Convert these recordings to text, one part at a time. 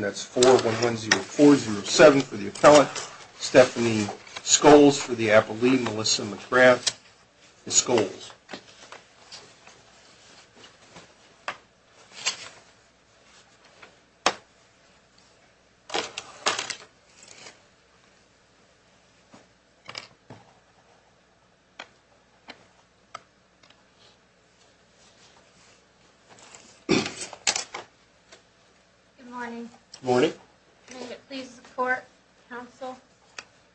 That's 410407 for the appellate, Stephanie Scholes for the apolyte, Melissa McGrath, and Scholes. Good morning, morning, please support counsel.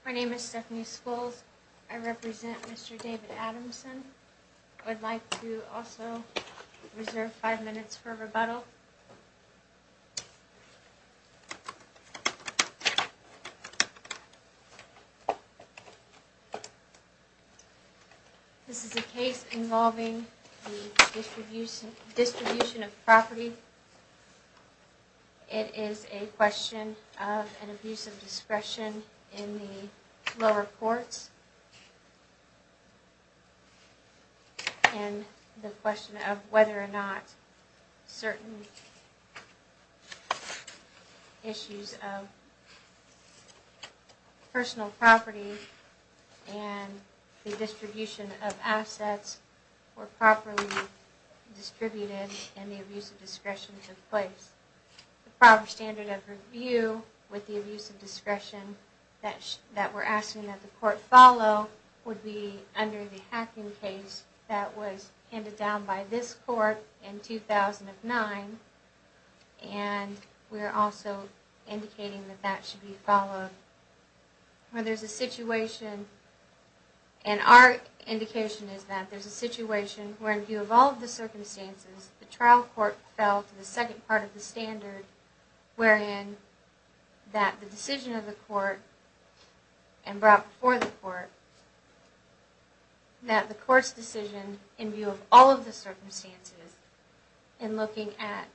My name is Stephanie schools. I represent Mr. David Adamson. I'd like to also reserve 5 minutes for rebuttal. This is a case involving distribution of property. It is a question of an abuse of discretion in the lower courts. And the question of whether or not certain issues of personal property and the distribution of assets were properly distributed and the abuse of discretion took place. The proper standard of review with the abuse of discretion that we're asking that the court follow would be under the hacking case that was handed down by this court in 2009. And we're also indicating that that should be followed. Where there's a situation and our indication is that there's a situation where in view of all of the circumstances, the trial court fell to the second part of the standard. Wherein that the decision of the court and brought before the court that the court's decision in view of all of the circumstances and looking at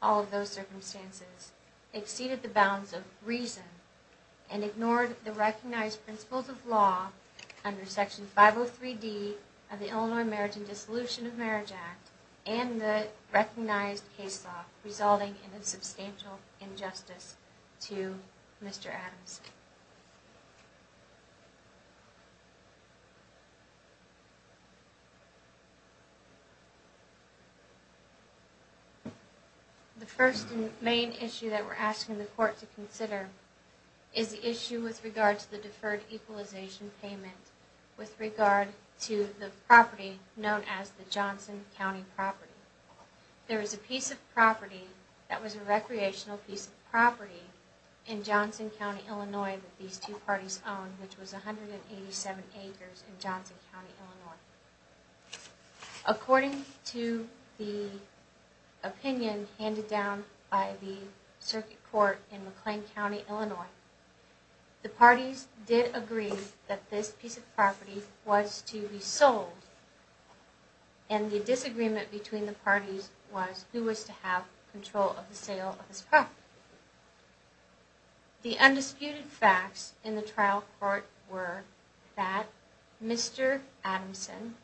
all of those circumstances exceeded the bounds of reason. And ignored the recognized principles of law under Section 503 D of the Illinois Marriage and Dissolution of Marriage Act and the recognized case law resulting in a substantial injustice to Mr. Adams. The first main issue that we're asking the court to consider is the issue with regard to the deferred equalization payment with regard to the property known as the Johnson County property. There is a piece of property that was a recreational piece of property in Johnson County, Illinois that these two parties owned which was 187 acres in Johnson County, Illinois. According to the opinion handed down by the circuit court in McLean County, Illinois, the parties did agree that this piece of property was to be sold. And the disagreement between the parties was who was to have control of the sale of this property. The undisputed facts in the trial court were that Mr. Adamson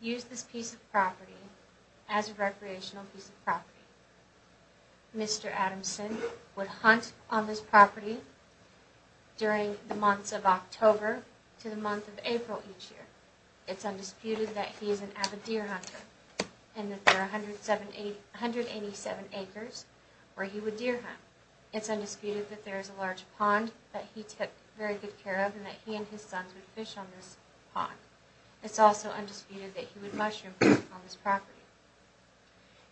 used this piece of property as a recreational piece of property. Mr. Adamson would hunt on this property during the months of October to the month of April each year. It's undisputed that he is an avid deer hunter and that there are 187 acres where he would deer hunt. It's undisputed that there is a large pond that he took very good care of and that he and his sons would fish on this pond. It's also undisputed that he would mushroom hunt on this property.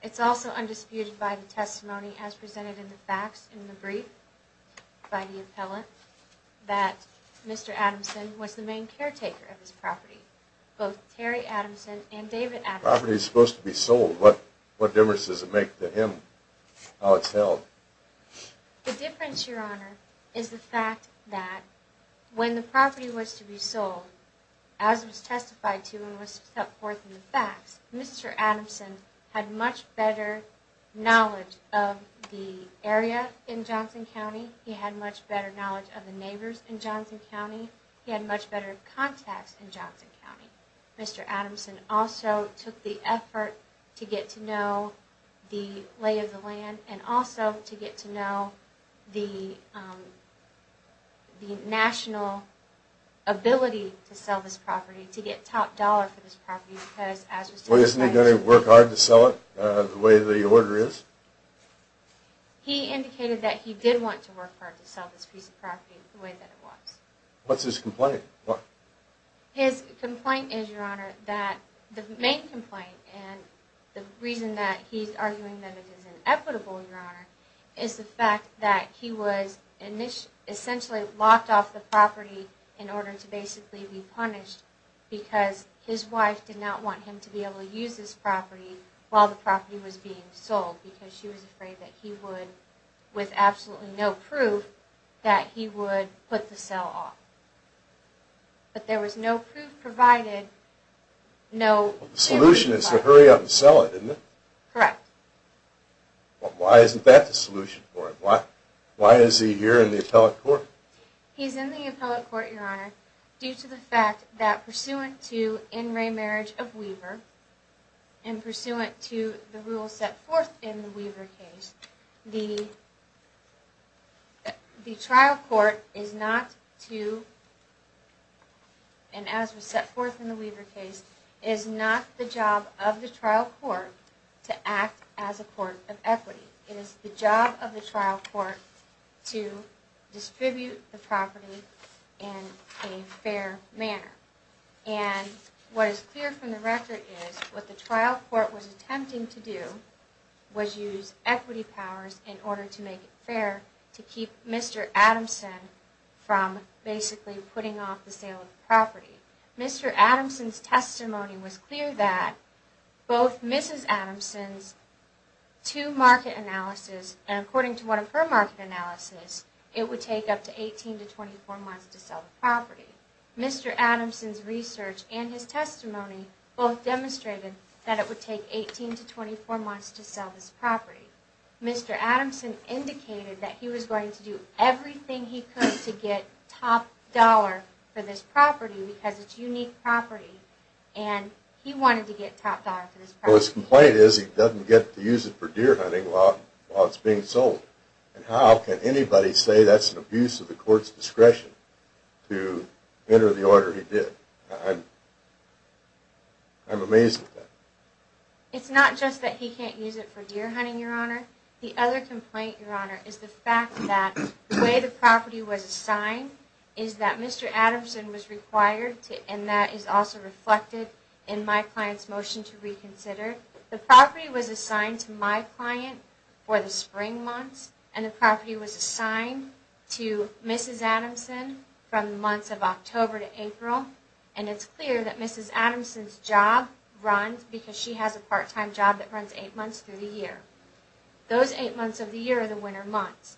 It's also undisputed by the testimony as presented in the facts in the brief by the appellant that Mr. Adamson was the main caretaker of this property. Both Terry Adamson and David Adamson... The property is supposed to be sold. What difference does it make to him how it's held? The difference, Your Honor, is the fact that when the property was to be sold, as was testified to and was put forth in the facts, Mr. Adamson had much better knowledge of the area in Johnson County. He had much better knowledge of the neighbors in Johnson County. He had much better contacts in Johnson County. Mr. Adamson also took the effort to get to know the lay of the land and also to get to know the national ability to sell this property, to get top dollar for this property because as was testified... Well, isn't he going to work hard to sell it the way the order is? He indicated that he did want to work hard to sell this piece of property the way that it was. What's his complaint? His complaint is, Your Honor, that... The main complaint and the reason that he's arguing that it is inequitable, Your Honor, is the fact that he was essentially locked off the property in order to basically be punished because his wife did not want him to be able to use this property while the property was being sold because she was afraid that he would, with absolutely no proof, that he would put the sale off. But there was no proof provided, no... The solution is to hurry up and sell it, isn't it? Correct. Why isn't that the solution for him? Why is he here in the appellate court? He's in the appellate court, Your Honor, due to the fact that pursuant to in re marriage of Weaver and pursuant to the rules set forth in the Weaver case, the trial court is not to... and as was set forth in the Weaver case, is not the job of the trial court to act as a court of equity. It is the job of the trial court to distribute the property in a fair manner. And what is clear from the record is what the trial court was attempting to do was use equity powers in order to make it fair to keep Mr. Adamson from basically putting off the sale of the property. Mr. Adamson's testimony was clear that both Mrs. Adamson's two market analysis, and according to one of her market analysis, it would take up to 18 to 24 months to sell the property. Mr. Adamson's research and his testimony both demonstrated that it would take 18 to 24 months to sell this property. Mr. Adamson indicated that he was going to do everything he could to get top dollar for this property because it's a unique property and he wanted to get top dollar for this property. Well his complaint is he doesn't get to use it for deer hunting while it's being sold. And how can anybody say that's an abuse of the court's discretion to enter the order he did? I'm amazed at that. It's not just that he can't use it for deer hunting, Your Honor. The other complaint, Your Honor, is the fact that the way the property was assigned is that Mr. Adamson was required to, and that is also reflected in my client's motion to reconsider. The property was assigned to my client for the spring months, and the property was assigned to Mrs. Adamson from the months of October to April, and it's clear that Mrs. Adamson's job runs because she has a part-time job that runs eight months through the year. Those eight months of the year are the winter months.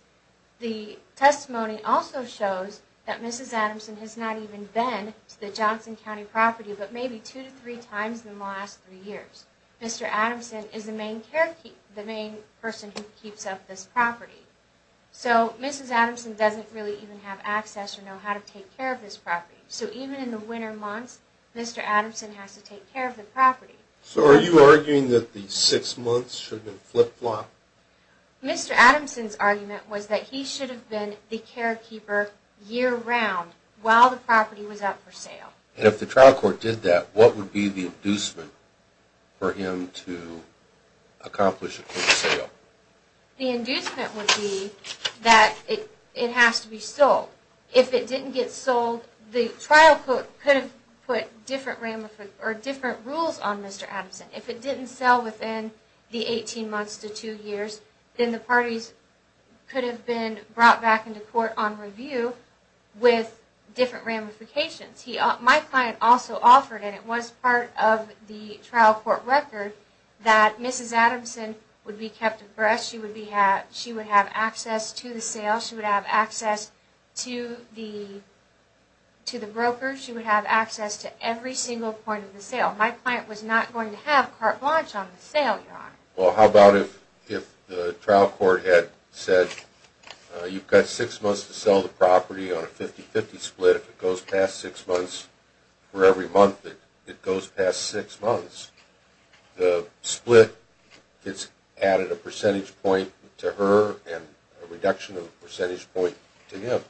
The testimony also shows that Mrs. Adamson has not even been to the Johnson County property but maybe two to three times in the last three years. Mr. Adamson is the main person who keeps up this property. So Mrs. Adamson doesn't really even have access or know how to take care of this property. So even in the winter months, Mr. Adamson has to take care of the property. So are you arguing that the six months should have been flip-flop? Mr. Adamson's argument was that he should have been the carekeeper year-round while the property was up for sale. And if the trial court did that, what would be the inducement for him to accomplish it for sale? The inducement would be that it has to be sold. If it didn't get sold, the trial could have put different rules on Mr. Adamson. If it didn't sell within the 18 months to two years, then the parties could have been brought back into court on review with different ramifications. My client also offered, and it was part of the trial court record, that Mrs. Adamson would be kept abreast. She would have access to the sales. She would have access to the brokers. She would have access to every single point of the sale. My client was not going to have carte blanche on the sale, Your Honor. Well, how about if the trial court had said, You've got six months to sell the property on a 50-50 split. If it goes past six months for every month that it goes past six months, the split gets added a percentage point to her and a reduction of the percentage point to him.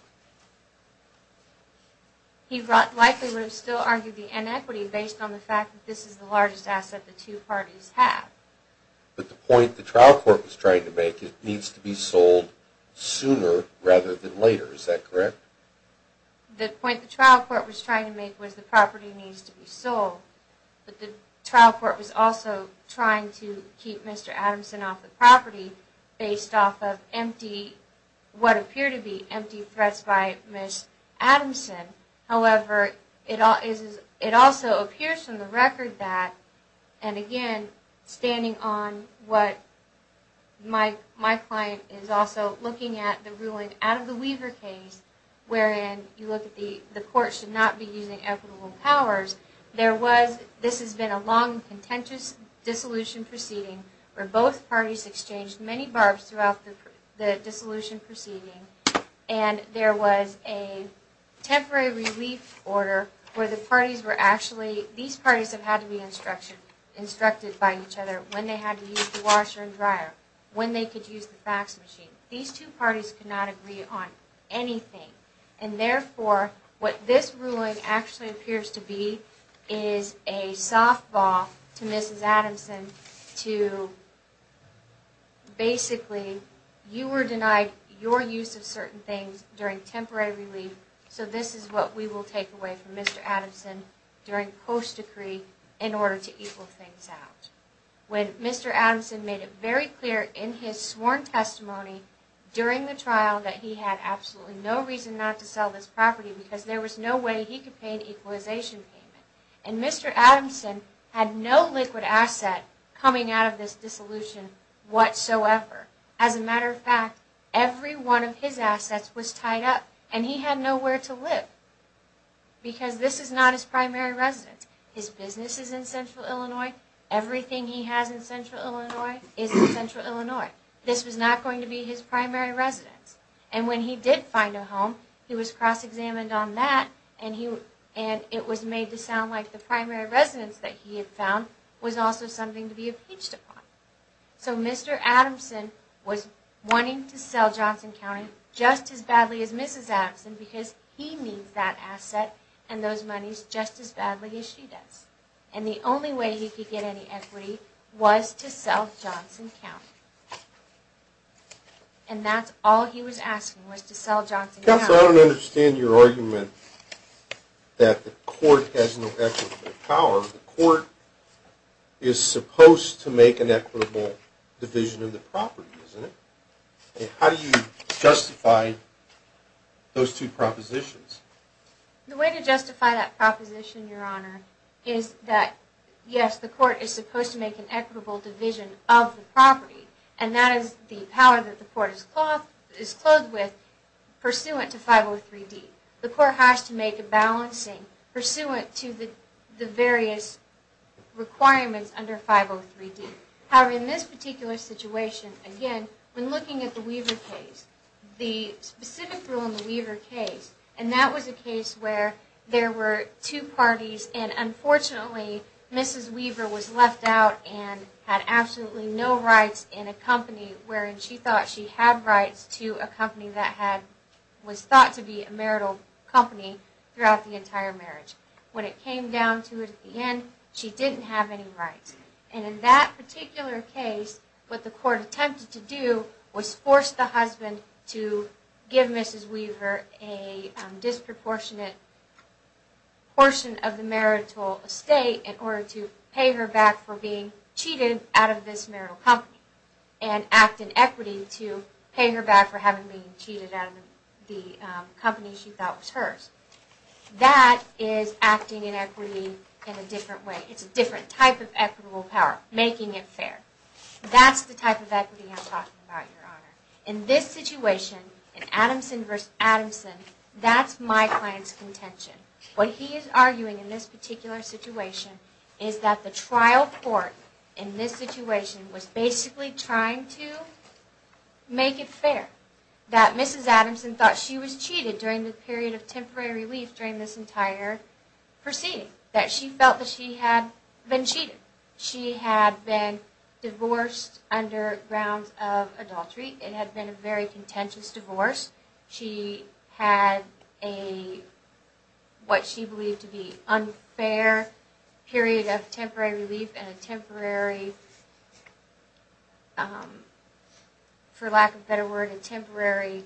He likely would have still argued the inequity based on the fact that this is the largest asset the two parties have. But the point the trial court was trying to make is it needs to be sold sooner rather than later. Is that correct? The point the trial court was trying to make was the property needs to be sold. But the trial court was also trying to keep Mr. Adamson off the property based off of what appear to be empty threats by Mrs. Adamson. However, it also appears from the record that, and again, standing on what my client is also looking at the ruling out of the Weaver case, wherein you look at the court should not be using equitable powers, this has been a long, contentious dissolution proceeding where both parties exchanged many barbs throughout the dissolution proceeding. And there was a temporary relief order where the parties were actually, these parties have had to be instructed by each other when they had to use the washer and dryer, when they could use the fax machine. These two parties could not agree on anything. And therefore, what this ruling actually appears to be is a softball to Mrs. Adamson to, basically, you were denied your use of certain things during temporary relief, so this is what we will take away from Mr. Adamson during post-decree in order to equal things out. When Mr. Adamson made it very clear in his sworn testimony during the trial that he had absolutely no reason not to sell this property because there was no way he could pay an equalization payment. And Mr. Adamson had no liquid asset coming out of this dissolution whatsoever. As a matter of fact, every one of his assets was tied up and he had nowhere to live because this is not his primary residence. His business is in Central Illinois. Everything he has in Central Illinois is in Central Illinois. This was not going to be his primary residence. And when he did find a home, he was cross-examined on that and it was made to sound like the primary residence that he had found was also something to be impeached upon. So Mr. Adamson was wanting to sell Johnson County just as badly as Mrs. Adamson because he needs that asset and those monies just as badly as she does. And the only way he could get any equity was to sell Johnson County. And that's all he was asking was to sell Johnson County. Counsel, I don't understand your argument that the court has no equitable power. The court is supposed to make an equitable division of the property, isn't it? How do you justify those two propositions? The way to justify that proposition, Your Honor, is that, yes, the court is supposed to make an equitable division of the property, and that is the power that the court is clothed with pursuant to 503D. The court has to make a balancing pursuant to the various requirements under 503D. However, in this particular situation, again, when looking at the Weaver case, the specific rule in the Weaver case, and that was a case where there were two parties and, unfortunately, Mrs. Weaver was left out and had absolutely no rights in a company wherein she thought she had rights to a company that was thought to be a marital company throughout the entire marriage. When it came down to it at the end, she didn't have any rights. And in that particular case, what the court attempted to do was force the husband to give Mrs. Weaver a disproportionate portion of the marital estate in order to pay her back for being cheated out of this marital company and act in equity to pay her back for having been cheated out of the company she thought was hers. That is acting in equity in a different way. It's a different type of equitable power, making it fair. That's the type of equity I'm talking about, Your Honor. In this situation, in Adamson v. Adamson, that's my client's contention. What he is arguing in this particular situation is that the trial court in this situation was basically trying to make it fair that Mrs. Adamson thought she was cheated during the period of temporary relief during this entire proceeding, that she felt that she had been cheated. She had been divorced under grounds of adultery. It had been a very contentious divorce. She had what she believed to be an unfair period of temporary relief and a temporary, for lack of a better word, a temporary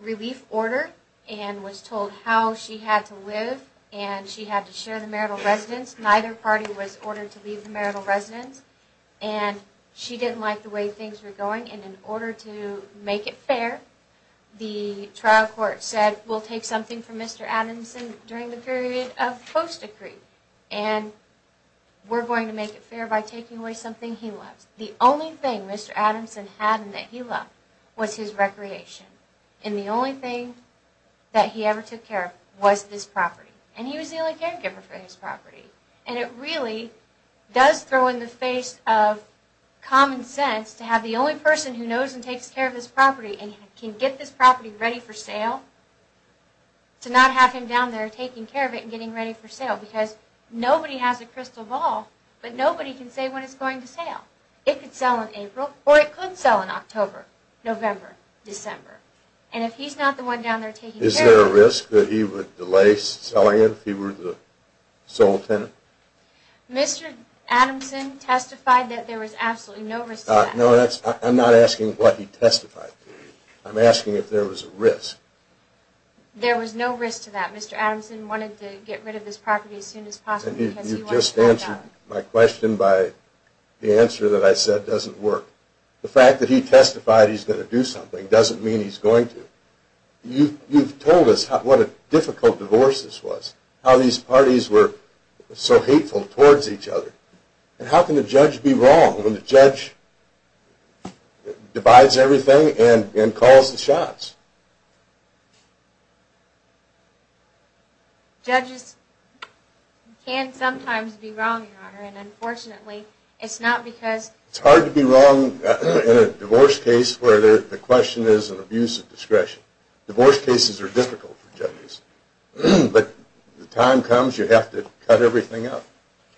relief order and was told how she had to live and she had to share the marital residence. Neither party was ordered to leave the marital residence and she didn't like the way things were going and in order to make it fair, the trial court said we'll take something from Mr. Adamson during the period of post-decree and we're going to make it fair by taking away something he loves. The only thing Mr. Adamson had and that he loved was his recreation and the only thing that he ever took care of was this property. And he was the only caregiver for this property. And it really does throw in the face of common sense to have the only person who knows and takes care of this property and can get this property ready for sale to not have him down there taking care of it and getting ready for sale because nobody has a crystal ball but nobody can say when it's going to sale. It could sell in April or it could sell in October, November, December. And if he's not the one down there taking care of it... Mr. Adamson testified that there was absolutely no risk to that. No, I'm not asking what he testified to. I'm asking if there was a risk. There was no risk to that. Mr. Adamson wanted to get rid of this property as soon as possible. You've just answered my question by the answer that I said doesn't work. The fact that he testified he's going to do something doesn't mean he's going to. You've told us what a difficult divorce this was, how these parties were so hateful towards each other. How can a judge be wrong when the judge divides everything and calls the shots? Judges can sometimes be wrong, Your Honor, and unfortunately it's not because... It's hard to be wrong in a divorce case where the question is an abuse of discretion. Divorce cases are difficult for judges. But the time comes you have to cut everything up.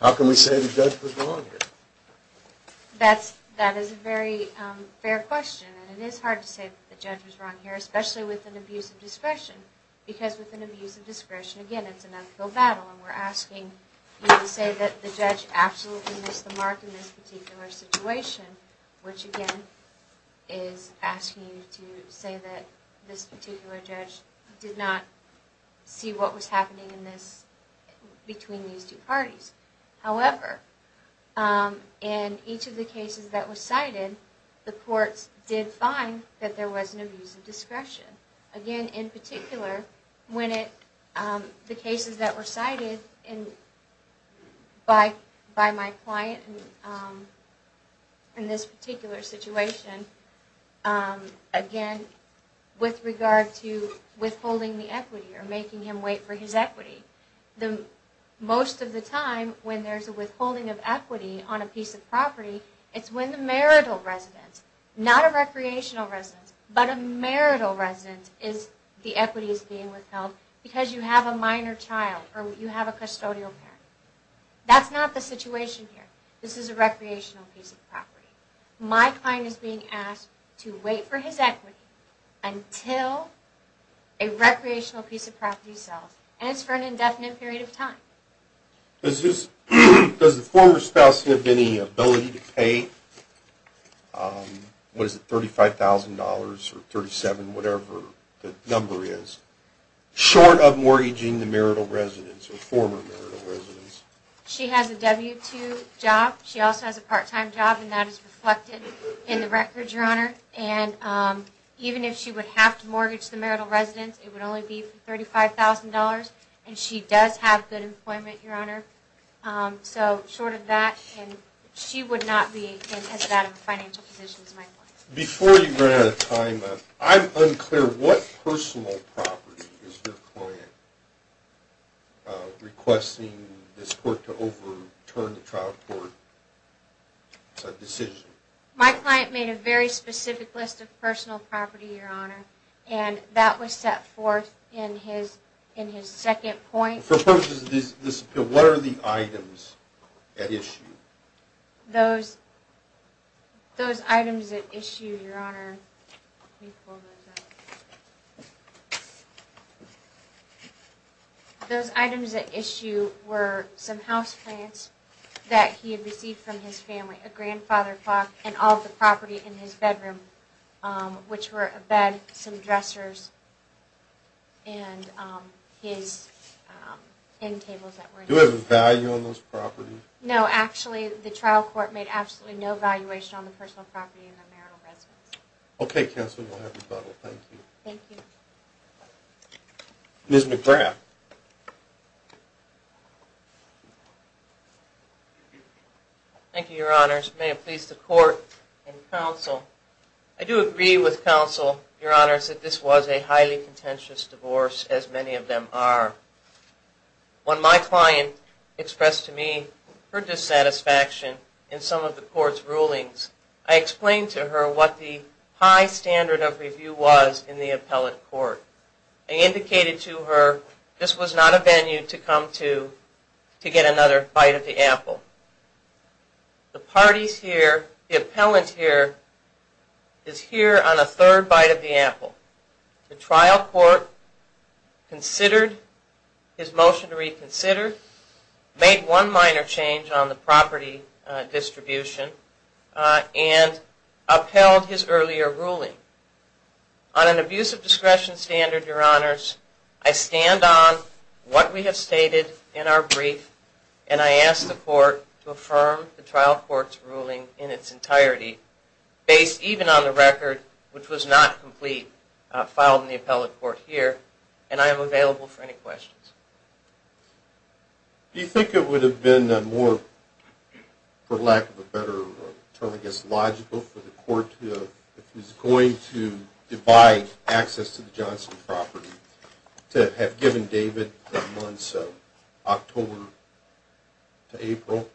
How can we say the judge was wrong here? That is a very fair question. And it is hard to say the judge was wrong here, especially with an abuse of discretion. Because with an abuse of discretion, again, it's an ethical battle. And we're asking you to say that the judge absolutely missed the mark in this particular situation, which again is asking you to say that this particular judge did not see what was happening between these two parties. However, in each of the cases that were cited, the courts did find that there was an abuse of discretion. Again, in particular, the cases that were cited by my client in this particular situation, again, with regard to withholding the equity or making him wait for his equity. Most of the time when there's a withholding of equity on a piece of property, it's when the marital residence, not a recreational residence, but a marital residence, the equity is being withheld because you have a minor child or you have a custodial parent. That's not the situation here. This is a recreational piece of property. My client is being asked to wait for his equity until a recreational piece of property sells. Does the former spouse have any ability to pay, what is it, $35,000 or $37,000, whatever the number is, short of mortgaging the marital residence or former marital residence? She has a W-2 job. She also has a part-time job, and that is reflected in the record, Your Honor. And even if she would have to mortgage the marital residence, it would only be for $35,000. And she does have good employment, Your Honor. So short of that, she would not be in as bad of a financial position as my client. Before you run out of time, I'm unclear. What personal property is your client requesting this court to overturn the trial court decision? My client made a very specific list of personal property, Your Honor, and that was set forth in his second point. For purposes of this appeal, what are the items at issue? Those items at issue, Your Honor, let me pull those up. Those items at issue were some houseplants that he had received from his family, a grandfather clock, and all of the property in his bedroom, which were a bed, some dressers, and his end tables that were in his bed. Do you have a value on those properties? No, actually, the trial court made absolutely no valuation on the personal property in the marital residence. Okay, counsel, we'll have rebuttal. Thank you. Thank you. Ms. McGrath. Thank you, Your Honors. May it please the court and counsel, I do agree with counsel, Your Honors, that this was a highly contentious divorce, as many of them are. When my client expressed to me her dissatisfaction in some of the court's rulings, I explained to her what the high standard of review was in the appellate court. I indicated to her this was not a venue to come to to get another bite of the apple. The parties here, the appellant here, is here on a third bite of the apple. The trial court considered his motion to reconsider, made one minor change on the property distribution, and upheld his earlier ruling. On an abuse of discretion standard, Your Honors, I stand on what we have stated in our brief, and I ask the court to affirm the trial court's ruling in its entirety, based even on the record which was not complete, filed in the appellate court here, and I am available for any questions. Do you think it would have been more, for lack of a better term, I guess, logical for the court to, if it was going to divide access to the Johnson property, to have given David the months of October to April,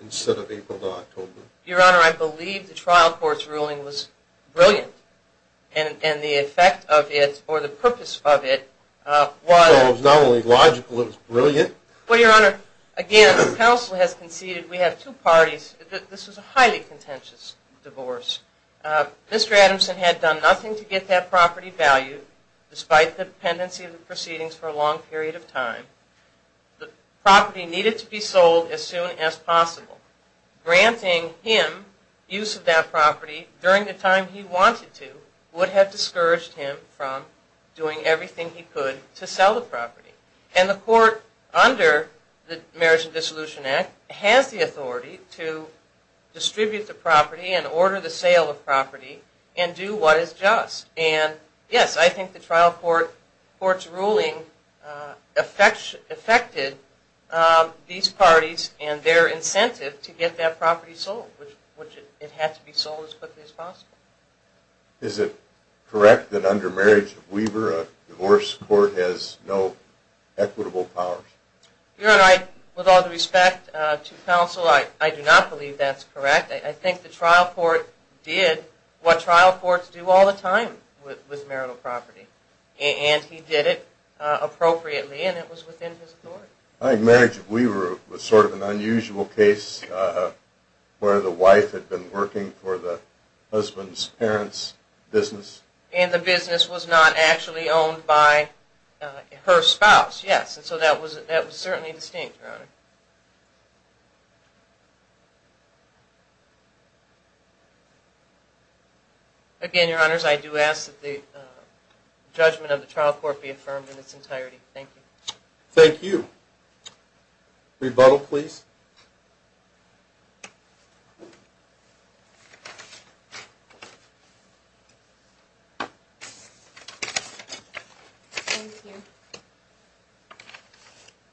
instead of April to October? Your Honor, I believe the trial court's ruling was brilliant, and the effect of it, or the purpose of it, was So it was not only logical, it was brilliant? Well, Your Honor, again, the counsel has conceded, we have two parties, this was a highly contentious divorce. Mr. Adamson had done nothing to get that property valued, despite the pendency of the proceedings for a long period of time. The property needed to be sold as soon as possible. Granting him use of that property during the time he wanted to, would have discouraged him from doing everything he could to sell the property. And the court, under the Marriage and Dissolution Act, has the authority to distribute the property, and order the sale of property, and do what is just. And yes, I think the trial court's ruling affected these parties and their incentive to get that property sold, which it had to be sold as quickly as possible. Is it correct that under Marriage of Weaver, a divorce court has no equitable powers? Your Honor, with all due respect to counsel, I do not believe that's correct. I think the trial court did what trial courts do all the time with marital property. And he did it appropriately, and it was within his authority. I think Marriage of Weaver was sort of an unusual case, where the wife had been working for the husband's parents' business. And the business was not actually owned by her spouse, yes. So that was certainly distinct, Your Honor. Again, Your Honors, I do ask that the judgment of the trial court be affirmed in its entirety. Thank you. Thank you. Rebuttal, please. Thank you.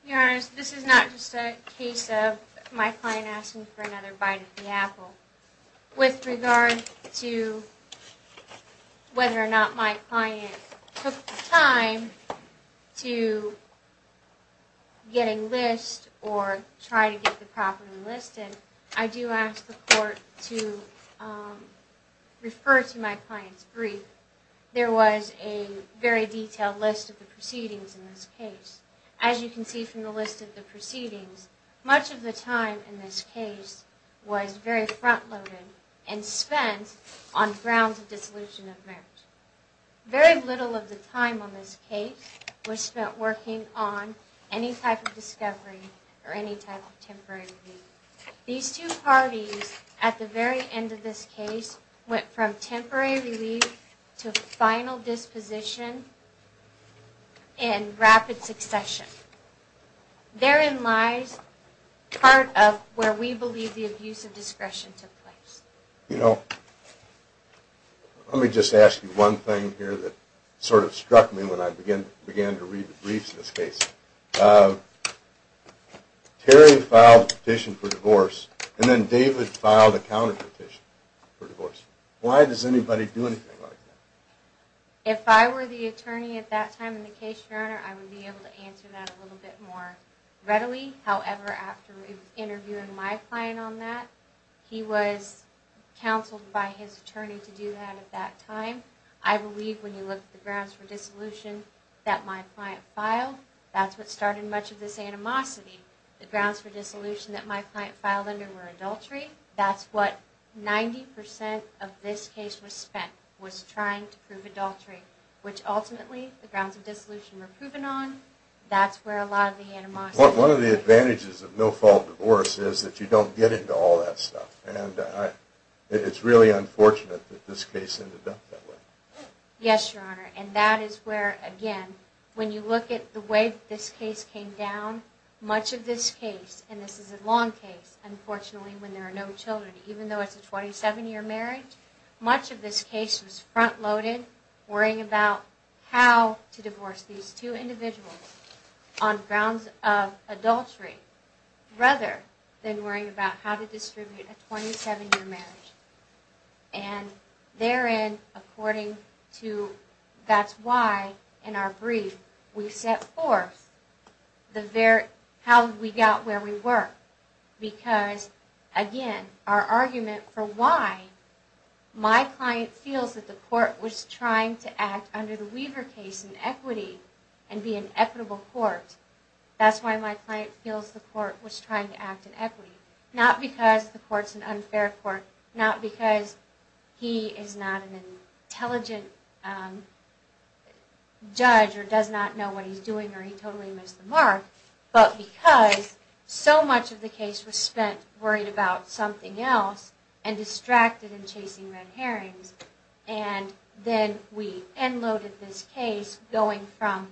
Your Honors, this is not just a case of my client asking for another bite of the apple. With regard to whether or not my client took the time to get a list or try to get the property listed, I do ask the court to refer to my client's brief. There was a very detailed list of the proceedings in this case. As you can see from the list of the proceedings, much of the time in this case was very front-loaded and spent on grounds of dissolution of marriage. Very little of the time on this case was spent working on any type of discovery or any type of temporary relief. These two parties at the very end of this case went from temporary relief to final disposition in rapid succession. Therein lies part of where we believe the abuse of discretion took place. You know, let me just ask you one thing here that sort of struck me when I began to read the briefs in this case. Terry filed a petition for divorce, and then David filed a counterpetition for divorce. Why does anybody do anything like that? If I were the attorney at that time in the case, Your Honor, I would be able to answer that a little bit more readily. However, after interviewing my client on that, he was counseled by his attorney to do that at that time. I believe when you look at the grounds for dissolution that my client filed, that's what started much of this animosity. The grounds for dissolution that my client filed under were adultery. That's what 90% of this case was spent was trying to prove adultery, which ultimately the grounds of dissolution were proven on. That's where a lot of the animosity... One of the advantages of no-fault divorce is that you don't get into all that stuff. And it's really unfortunate that this case ended up that way. Yes, Your Honor. And that is where, again, when you look at the way this case came down, much of this case, and this is a long case, unfortunately, when there are no children, even though it's a 27-year marriage, much of this case was front-loaded worrying about how to divorce these two individuals on grounds of adultery rather than worrying about how to distribute a 27-year marriage. And therein, according to... That's why, in our brief, we set forth how we got where we were. Because, again, our argument for why my client feels that the court was trying to act under the Weaver case in equity and be an equitable court, that's why my client feels the court was trying to act in equity. Not because the court's an unfair court. Not because he is not an intelligent judge or does not know what he's doing or he totally missed the mark. But because so much of the case was spent worrying about something else and distracted in chasing red herrings, and then we end-loaded this case going from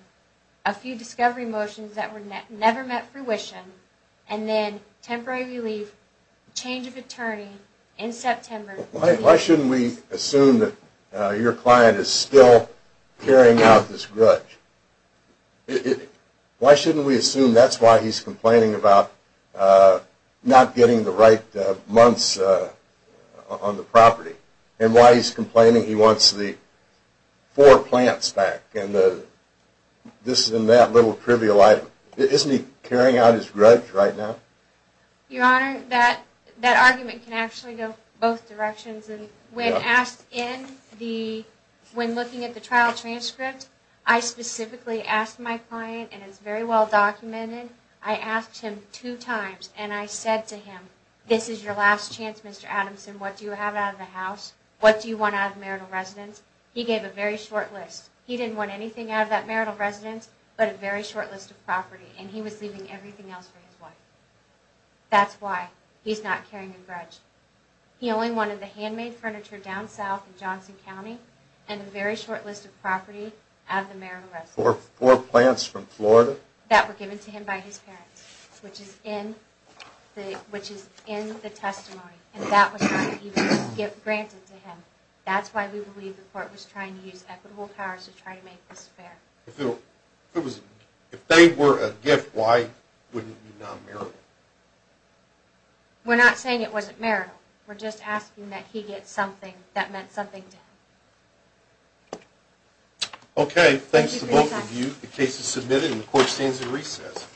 a few discovery motions that never met fruition and then temporary relief, change of attorney, in September... Why shouldn't we assume that your client is still carrying out this grudge? Why shouldn't we assume that's why he's complaining about not getting the right months on the property? And why he's complaining he wants the four plants back and this and that little trivial item. Isn't he carrying out his grudge right now? Your Honor, that argument can actually go both directions. When looking at the trial transcript, I specifically asked my client, and it's very well documented, I asked him two times, and I said to him, this is your last chance, Mr. Adamson, what do you have out of the house? What do you want out of marital residence? He gave a very short list. He didn't want anything out of that marital residence, but a very short list of property, and he was leaving everything else for his wife. That's why he's not carrying a grudge. He only wanted the handmade furniture down south in Johnson County, and a very short list of property out of the marital residence. Four plants from Florida? That were given to him by his parents, which is in the testimony, and that was not even granted to him. That's why we believe the court was trying to use equitable powers to try to make this fair. If they were a gift, why wouldn't it be non-marital? We're not saying it wasn't marital. We're just asking that he get something that meant something to him. Okay, thanks to both of you. The case is submitted, and the court stands at recess.